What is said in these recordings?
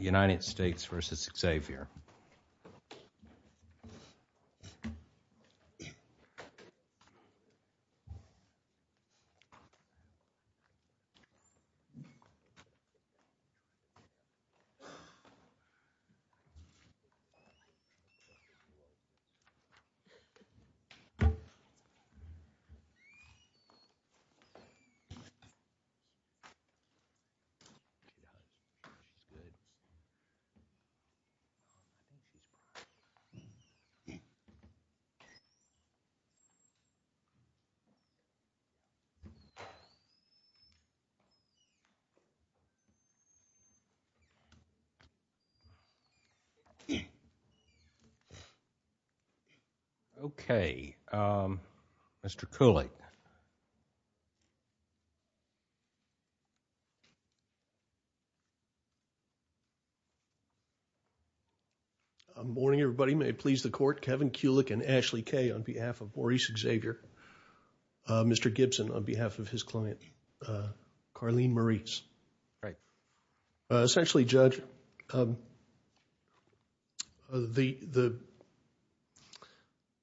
United States versus Xavier Okay, Mr. Cooley. Good morning, everybody may please the court Kevin Kulik and Ashley K on behalf of Maurice Xavier. Mr. Gibson on behalf of his client. Carleen Marie's right. Essentially judge. The, the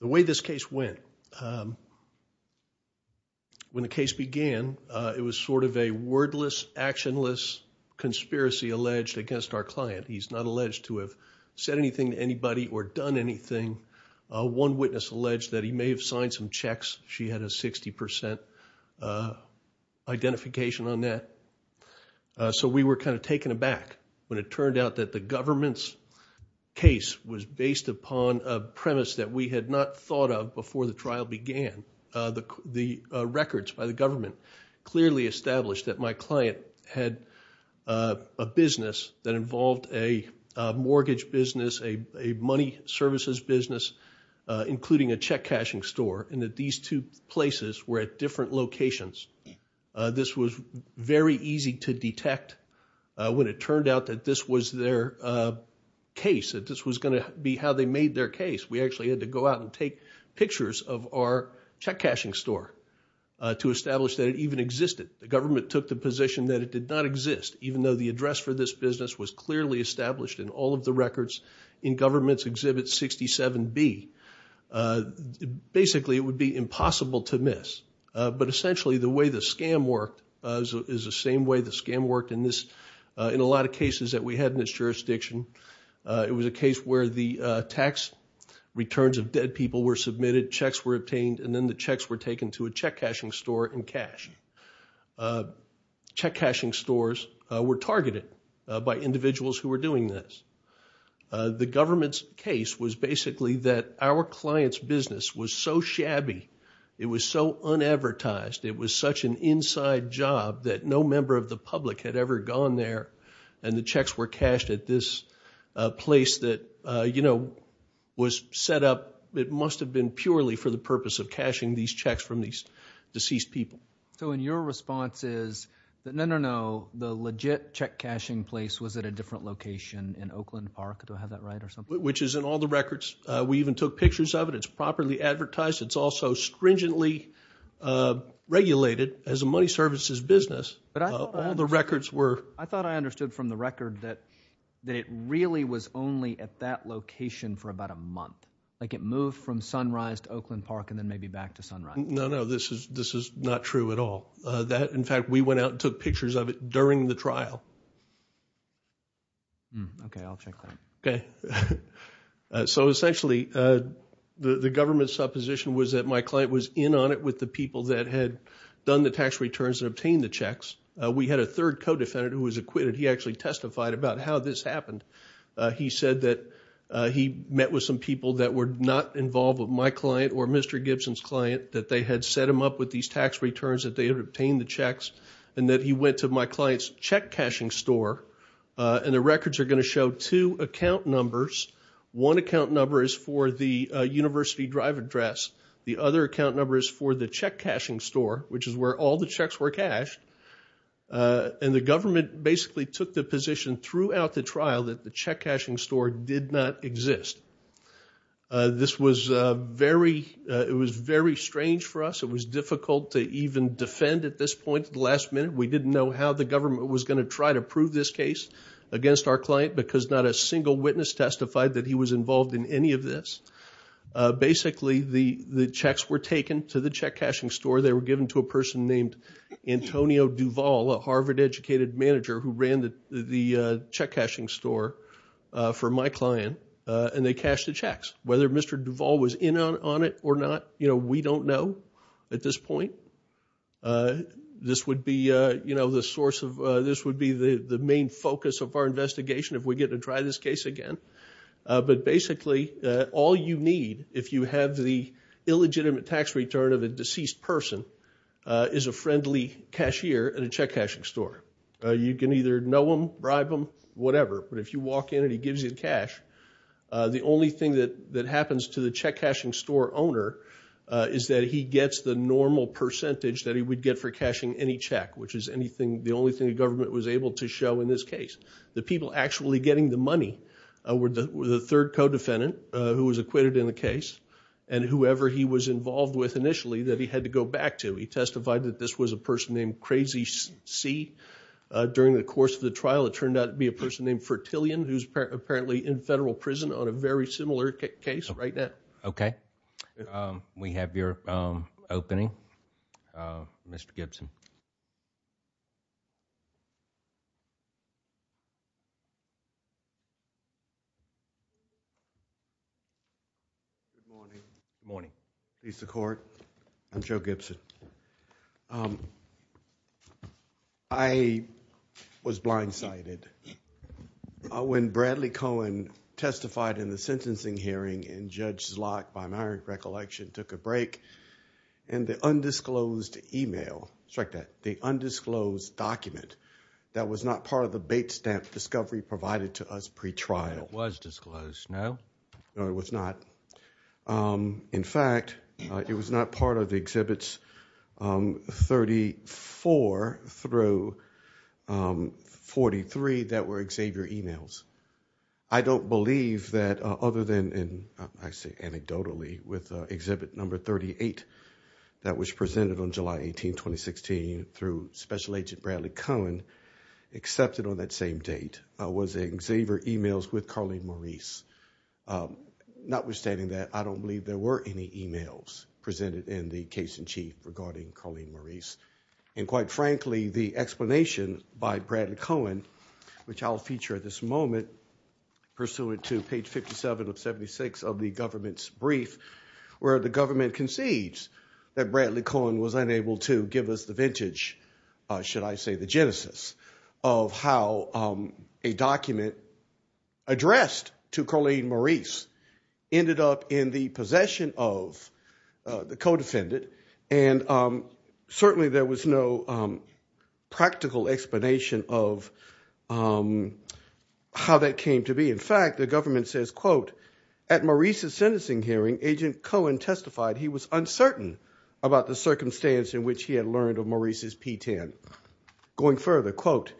way this case went. When the case began, it was sort of a wordless actionless conspiracy alleged against our client he's not alleged to have said anything to anybody or done anything. One witness alleged that he may have signed some checks, she had a 60% identification on that. So we were kind of taken aback when it turned out that the government's case was based upon a premise that we had not thought of before the trial began the, the records by the government, clearly established that my client had a business that involved a mortgage business a money services business, including a check cashing store, and that these two places were at different locations. This was very easy to detect. When it turned out that this was their case that this was going to be how they made their case we actually had to go out and take pictures of our check cashing store. To establish that it even existed, the government took the position that it did not exist, even though the address for this business was clearly established in all of the records in government's exhibit 67 be. Basically, it would be impossible to miss, but essentially the way the scam worked is the same way the scam worked in this. In a lot of cases that we had in this jurisdiction. It was a case where the tax returns of dead people were submitted checks were obtained and then the checks were taken to a check cashing store and cash. Check cashing stores were targeted by individuals who were doing this. The government's case was basically that our clients business was so shabby. It was so unadvertised. It was such an inside job that no member of the public had ever gone there and the checks were cashed at this place that, you know, was set up. It must have been purely for the purpose of cashing these checks from these deceased people. So in your response is that no, no, no. The legit check cashing place was at a different location in Oakland Park. Do I have that right or something? Which is in all the records. We even took pictures of it. It's properly advertised. It's also stringently regulated as a money services business. But all the records were. I thought I understood from the record that it really was only at that location for about a month. Like it moved from Sunrise to Oakland Park and then maybe back to Sunrise. No, no. This is not true at all. In fact, we went out and took pictures of it during the trial. Okay. I'll check that. Okay. So essentially the government's supposition was that my client was in on it with the people that had done the tax returns and obtained the checks. We had a third co-defendant who was acquitted. He actually testified about how this happened. He said that he met with some people that were not involved with my client or Mr. Gibson's client, that they had set him up with these tax returns, that they had obtained the checks, and that he went to my client's check cashing store. And the records are going to show two account numbers. One account number is for the university drive address. The other account number is for the check cashing store, which is where all the checks were cashed. And the government basically took the position throughout the trial that the check cashing store did not exist. This was very strange for us. It was difficult to even defend at this point at the last minute. We didn't know how the government was going to try to prove this case against our client because not a single witness testified that he was involved in any of this. Basically, the checks were taken to the check cashing store. They were given to a person named Antonio Duval, a Harvard-educated manager who ran the check cashing store for my client, and they cashed the checks. Whether Mr. Duval was in on it or not, we don't know at this point. This would be the main focus of our investigation if we get to try this case again. But basically, all you need if you have the illegitimate tax return of a deceased person is a friendly cashier at a check cashing store. You can either know him, bribe him, whatever, but if you walk in and he gives you the cash, the only thing that happens to the check cashing store owner is that he gets the normal percentage that he would get for cashing any check, which is the only thing the government was able to show in this case. The people actually getting the money were the third co-defendant who was acquitted in the case and whoever he was involved with initially that he had to go back to. He testified that this was a person named Crazy C. During the course of the trial, it turned out to be a person named Fertillion who's apparently in federal prison on a very similar case right now. Okay. We have your opening, Mr. Gibson. Good morning. Good morning. Peace to the court. I'm Joe Gibson. I was blindsided when Bradley Cohen testified in the sentencing hearing and Judge Zlot by my recollection took a break and the undisclosed email, the undisclosed document that was not part of the bait stamp discovery provided to us pre-trial. It was disclosed, no? No, it was not. In fact, it was not part of the Exhibits 34 through 43 that were Xavier emails. I don't believe that other than anecdotally with Exhibit 38 that was presented on July 18, 2016 through Special Agent Bradley Cohen accepted on that same date was Xavier emails with Carleen Maurice. Notwithstanding that, I don't believe there were any emails presented in the case in chief regarding Carleen Maurice. And quite frankly, the explanation by Bradley Cohen, which I'll feature at this moment, pursuant to page 57 of 76 of the government's brief where the government concedes that Bradley Cohen was unable to give us the vintage. Should I say the genesis of how a document addressed to Carleen Maurice ended up in the possession of the co-defendant? And certainly there was no practical explanation of how that came to be. In fact, the government says, quote, at Maurice's sentencing hearing, Agent Cohen testified he was uncertain about the circumstance in which he had learned of Maurice's P-10. Going further, quote,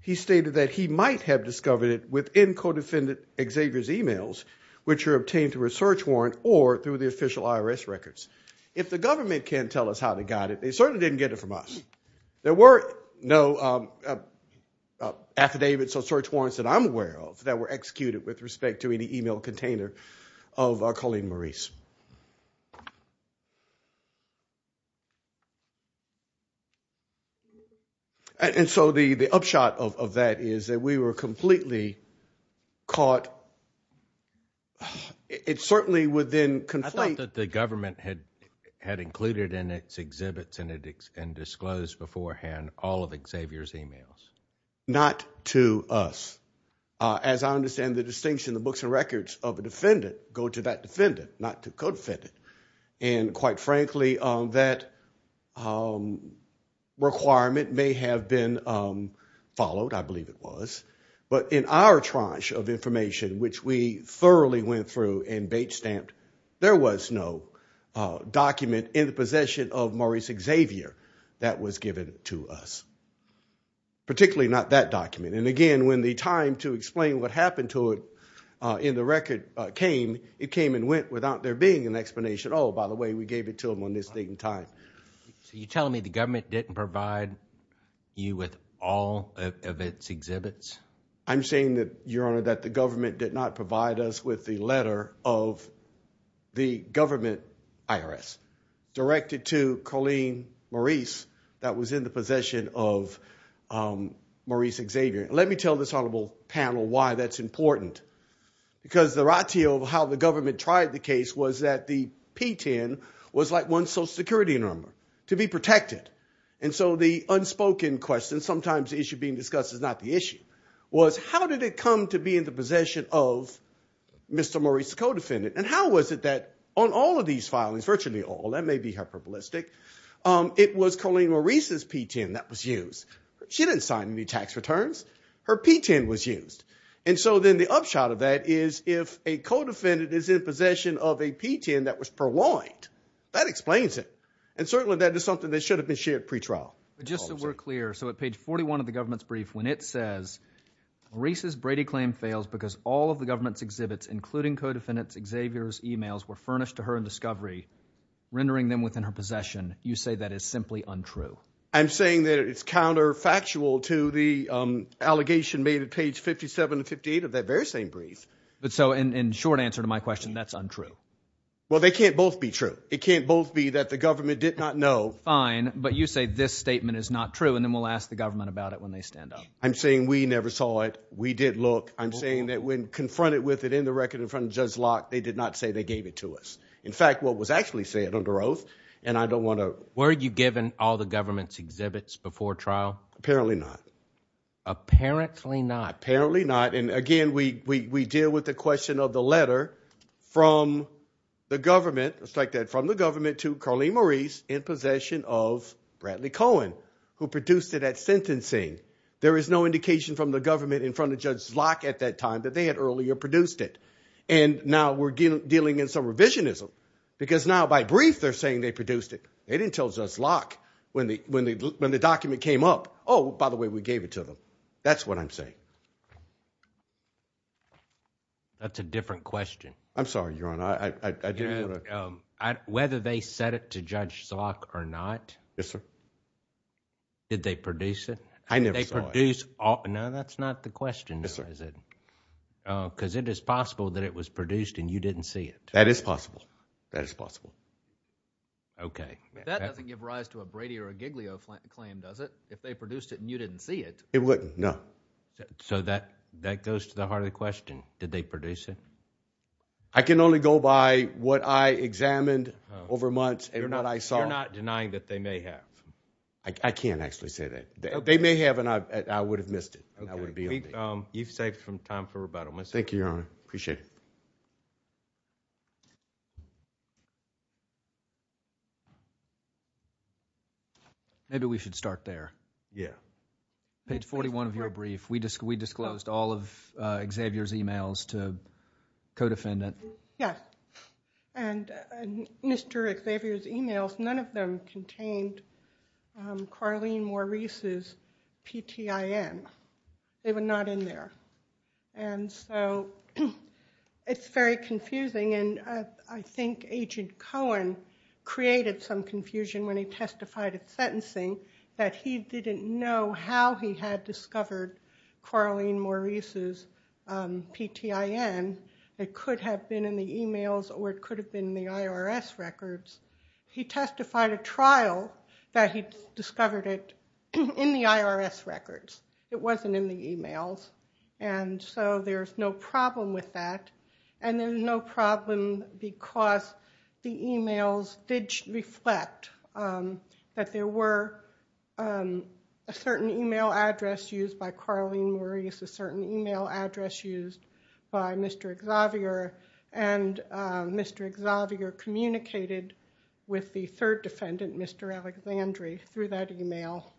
he stated that he might have discovered it within co-defendant Xavier's emails, which were obtained through a search warrant or through the official IRS records. If the government can't tell us how they got it, they certainly didn't get it from us. There were no affidavits or search warrants that I'm aware of that were executed with respect to any email container of Carleen Maurice. And so the upshot of that is that we were completely caught. It certainly would then conflate. I thought that the government had included in its exhibits and disclosed beforehand all of Xavier's emails. Not to us. As I understand the distinction, the books and records of a defendant go to that defendant, not to co-defendant. And quite frankly, that requirement may have been followed. I believe it was. But in our tranche of information, which we thoroughly went through and bait-stamped, there was no document in the possession of Maurice Xavier that was given to us. Particularly not that document. And again, when the time to explain what happened to it in the record came, it came and went without there being an explanation. Oh, by the way, we gave it to him on this date and time. So you're telling me the government didn't provide you with all of its exhibits? I'm saying that, Your Honor, that the government did not provide us with the letter of the government IRS directed to Carleen Maurice that was in the possession of Maurice Xavier. Let me tell this honorable panel why that's important. Because the ratio of how the government tried the case was that the P-10 was like one social security number to be protected. And so the unspoken question, sometimes the issue being discussed is not the issue, was how did it come to be in the possession of Mr. Maurice's co-defendant? And how was it that on all of these filings, virtually all, that may be hyperbolistic, it was Carleen Maurice's P-10 that was used. She didn't sign any tax returns. Her P-10 was used. And so then the upshot of that is if a co-defendant is in possession of a P-10 that was purloined, that explains it. And certainly that is something that should have been shared pretrial. But just so we're clear, so at page 41 of the government's brief, when it says, Maurice's Brady claim fails because all of the government's exhibits, including co-defendant Xavier's emails, were furnished to her in discovery, rendering them within her possession, you say that is simply untrue. I'm saying that it's counterfactual to the allegation made at page 57 and 58 of that very same brief. But so in short answer to my question, that's untrue. Well, they can't both be true. It can't both be that the government did not know. Fine, but you say this statement is not true, and then we'll ask the government about it when they stand up. I'm saying we never saw it. We did look. I'm saying that when confronted with it in the record in front of Judge Locke, they did not say they gave it to us. In fact, what was actually said under oath, and I don't want to – Were you given all the government's exhibits before trial? Apparently not. Apparently not. Apparently not. And again, we deal with the question of the letter from the government, just like that, from the government to Carlene Maurice in possession of Bradley Cohen, who produced it at sentencing. There is no indication from the government in front of Judge Locke at that time that they had earlier produced it. And now we're dealing in some revisionism because now by brief they're saying they produced it. They didn't tell Judge Locke when the document came up, oh, by the way, we gave it to them. That's what I'm saying. That's a different question. I'm sorry, Your Honor. Whether they said it to Judge Locke or not. Yes, sir. Did they produce it? I never saw it. Did they produce – no, that's not the question, is it? Yes, sir. Because it is possible that it was produced and you didn't see it. That is possible. That is possible. Okay. That doesn't give rise to a Brady or a Giglio claim, does it, if they produced it and you didn't see it? It wouldn't, no. So that goes to the heart of the question. Did they produce it? I can only go by what I examined over months and what I saw. You're not denying that they may have? I can't actually say that. They may have and I would have missed it. You've saved some time for rebuttal. Thank you, Your Honor. Appreciate it. Maybe we should start there. Yeah. Page 41 of your brief, we disclosed all of Xavier's emails to codefendant. Yes, and Mr. Xavier's emails, none of them contained Carlene Maurice's PTIN. They were not in there. And so it's very confusing and I think Agent Cohen created some confusion when he testified at sentencing that he didn't know how he had discovered Carlene Maurice's PTIN. It could have been in the emails or it could have been in the IRS records. He testified at trial that he discovered it in the IRS records. It wasn't in the emails and so there's no problem with that. And there's no problem because the emails did reflect that there were a certain email address used by Carlene Maurice, a certain email address used by Mr. Xavier and Mr. Xavier communicated with the third defendant, Mr. Alexandri, through that email.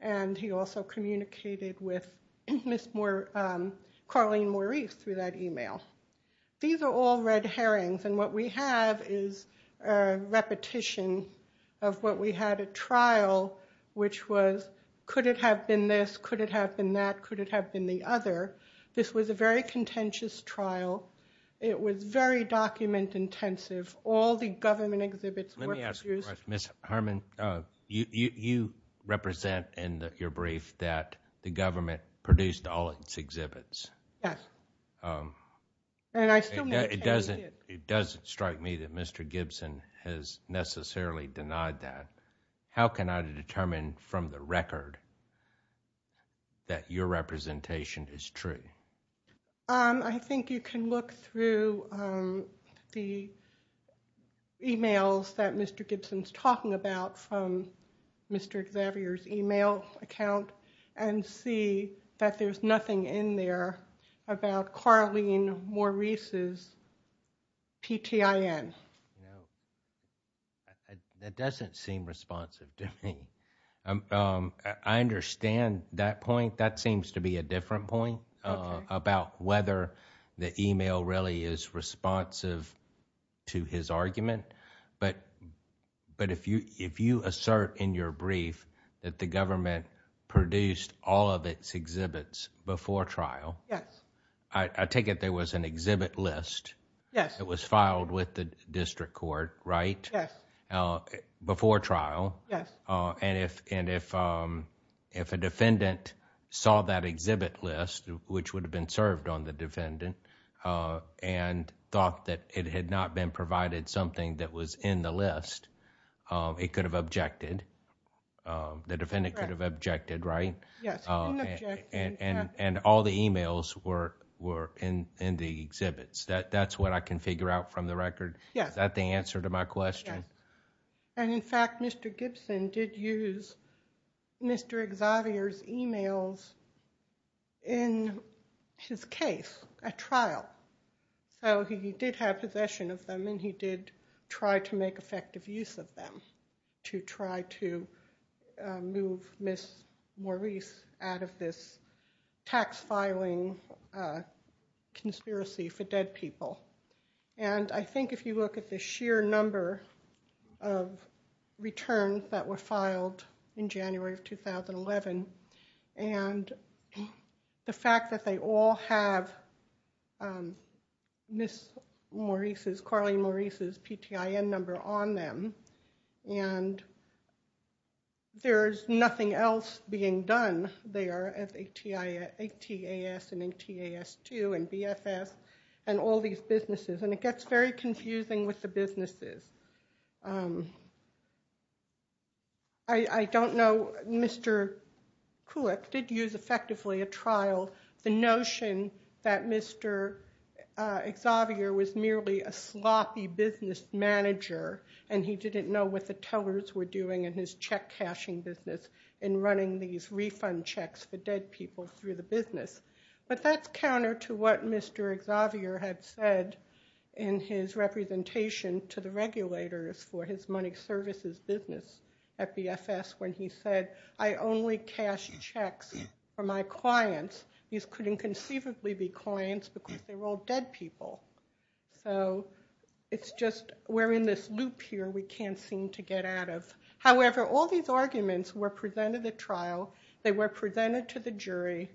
And he also communicated with Carlene Maurice through that email. These are all red herrings and what we have is repetition of what we had at trial, which was could it have been this, could it have been that, could it have been the other. This was a very contentious trial. It was very document intensive. All the government exhibits were produced. Ms. Harmon, you represent in your brief that the government produced all its exhibits. Yes. And I still need to tell you this. It doesn't strike me that Mr. Gibson has necessarily denied that. How can I determine from the record that your representation is true? I think you can look through the emails that Mr. Gibson is talking about from Mr. Xavier's email account and see that there's nothing in there about Carlene Maurice's PTIN. That doesn't seem responsive to me. I understand that point. That seems to be a different point about whether the email really is responsive to his argument. But if you assert in your brief that the government produced all of its exhibits before trial. Yes. I take it there was an exhibit list. Yes. It was filed with the district court, right? Yes. Before trial. Yes. If a defendant saw that exhibit list which would have been served on the defendant and thought that it had not been provided something that was in the list, it could have objected. The defendant could have objected, right? Yes. And all the emails were in the exhibits. That's what I can figure out from the record. Yes. Is that the answer to my question? Yes. And in fact, Mr. Gibson did use Mr. Xavier's emails in his case at trial. So he did have possession of them and he did try to make effective use of them to try to move Ms. Maurice out of this tax filing conspiracy for dead people. And I think if you look at the sheer number of returns that were filed in January of 2011 and the fact that they all have Ms. Maurice's, Carly Maurice's PTIN number on them and there's nothing else being done there as ATAS and ATAS2 and BFS and all these businesses. And it gets very confusing with the businesses. I don't know, Mr. Kulik did use effectively at trial the notion that Mr. Xavier was merely a sloppy business manager and he didn't know what the tellers were doing in his check-cashing business in running these refund checks for dead people through the business. But that's counter to what Mr. Xavier had said in his representation to the regulators for his money services business at BFS when he said, I only cash checks for my clients. These couldn't conceivably be clients because they were all dead people. So it's just we're in this loop here we can't seem to get out of. However, all these arguments were presented at trial. They were presented to the jury.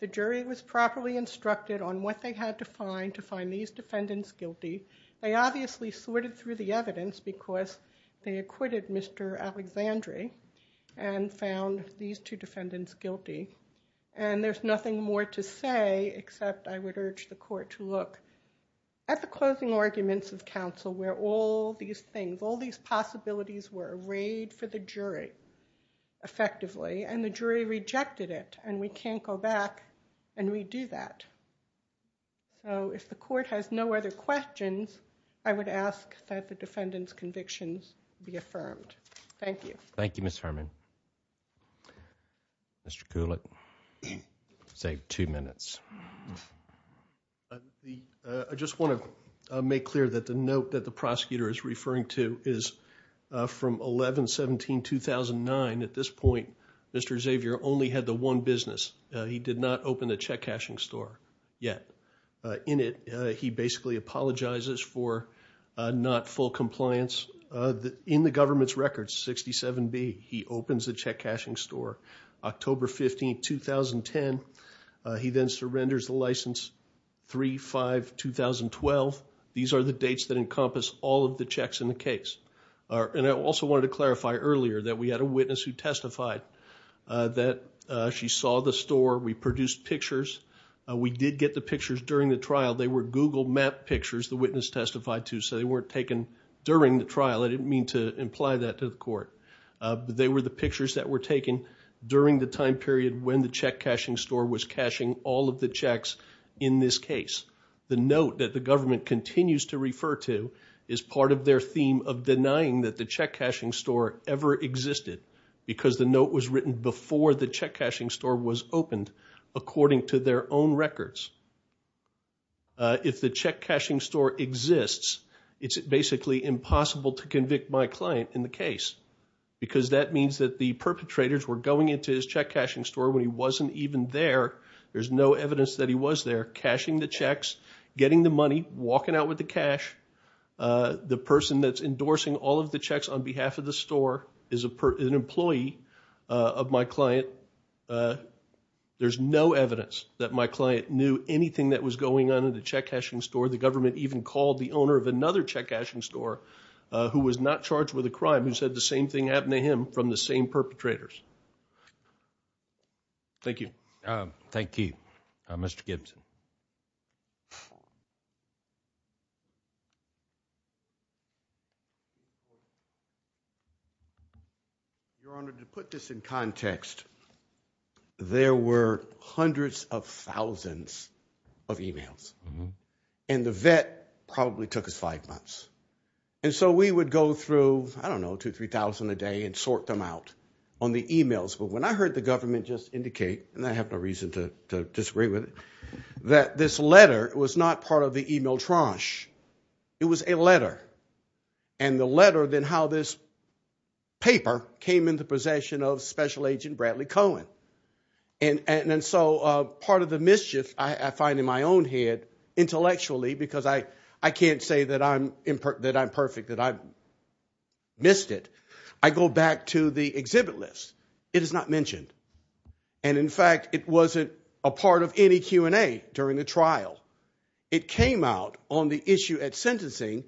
The jury was properly instructed on what they had to find to find these defendants guilty. They obviously sorted through the evidence because they acquitted Mr. Alexandre and found these two defendants guilty. And there's nothing more to say except I would urge the court to look at the closing arguments of counsel where all these things, all these possibilities were arrayed for the jury effectively and the jury rejected it and we can't go back and redo that. So if the court has no other questions, I would ask that the defendant's convictions be affirmed. Thank you. Thank you, Ms. Herman. Mr. Kulik, you saved two minutes. I just want to make clear that the note that the prosecutor is referring to is from 11-17-2009. At this point, Mr. Xavier only had the one business. He did not open a check-cashing store yet. In it, he basically apologizes for not full compliance. In the government's records, 67B, he opens a check-cashing store. October 15, 2010, he then surrenders the license 3-5-2012. These are the dates that encompass all of the checks in the case. And I also wanted to clarify earlier that we had a witness who testified that she saw the store. We produced pictures. We did get the pictures during the trial. They were Google map pictures the witness testified to, so they weren't taken during the trial. I didn't mean to imply that to the court. They were the pictures that were taken during the time period when the check-cashing store was cashing all of the checks in this case. The note that the government continues to refer to is part of their theme of denying that the check-cashing store ever existed because the note was written before the check-cashing store was opened, according to their own records. If the check-cashing store exists, it's basically impossible to convict my client in the case because that means that the perpetrators were going into his check-cashing store when he wasn't even there. There's no evidence that he was there cashing the checks, getting the money, walking out with the cash. The person that's endorsing all of the checks on behalf of the store is an employee of my client. There's no evidence that my client knew anything that was going on in the check-cashing store. The government even called the owner of another check-cashing store who was not charged with a crime who said the same thing happened to him from the same perpetrators. Thank you. Thank you. Mr. Gibson. Your Honor, to put this in context, there were hundreds of thousands of e-mails, and the vet probably took us five months. And so we would go through, I don't know, 2,000, 3,000 a day and sort them out on the e-mails. But when I heard the government just indicate, and I have no reason to disagree with it, that this letter was not part of the e-mail tranche. It was a letter. And the letter, then, how this paper came into possession of Special Agent Bradley Cohen. And so part of the mischief I find in my own head, intellectually, because I can't say that I'm perfect, that I missed it, I go back to the exhibit list. It is not mentioned. And, in fact, it wasn't a part of any Q&A during the trial. It came out on the issue at sentencing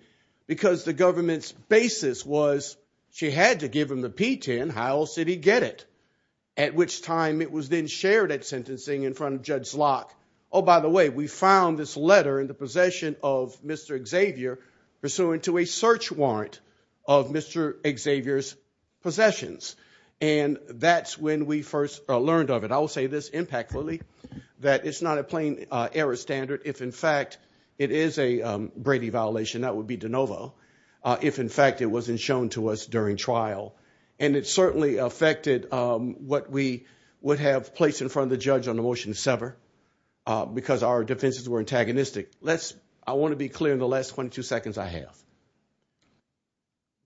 because the government's basis was she had to give him the P-10. How else did he get it? At which time it was then shared at sentencing in front of Judge Locke. Oh, by the way, we found this letter in the possession of Mr. Xavier pursuant to a search warrant of Mr. Xavier's possessions. And that's when we first learned of it. I will say this impactfully, that it's not a plain error standard. If, in fact, it is a Brady violation, that would be de novo. If, in fact, it wasn't shown to us during trial. And it certainly affected what we would have placed in front of the judge on the motion to sever because our defenses were antagonistic. I want to be clear in the last 22 seconds I have.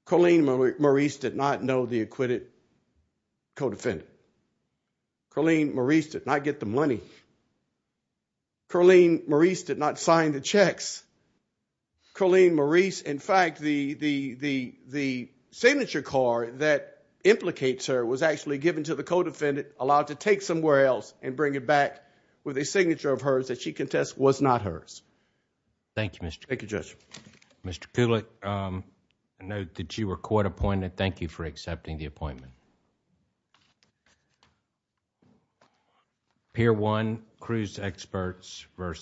Colleen Maurice did not know the acquitted co-defendant. Colleen Maurice did not get the money. Colleen Maurice did not sign the checks. Colleen Maurice, in fact, the signature card that implicates her was actually given to the co-defendant, allowed to take somewhere else and bring it back with a signature of hers that she contests was not hers. Thank you, Mr. Judge. Thank you, Judge. Mr. Kulik, I note that you were court appointed. Thank you for accepting the appointment. Thank you for your attention.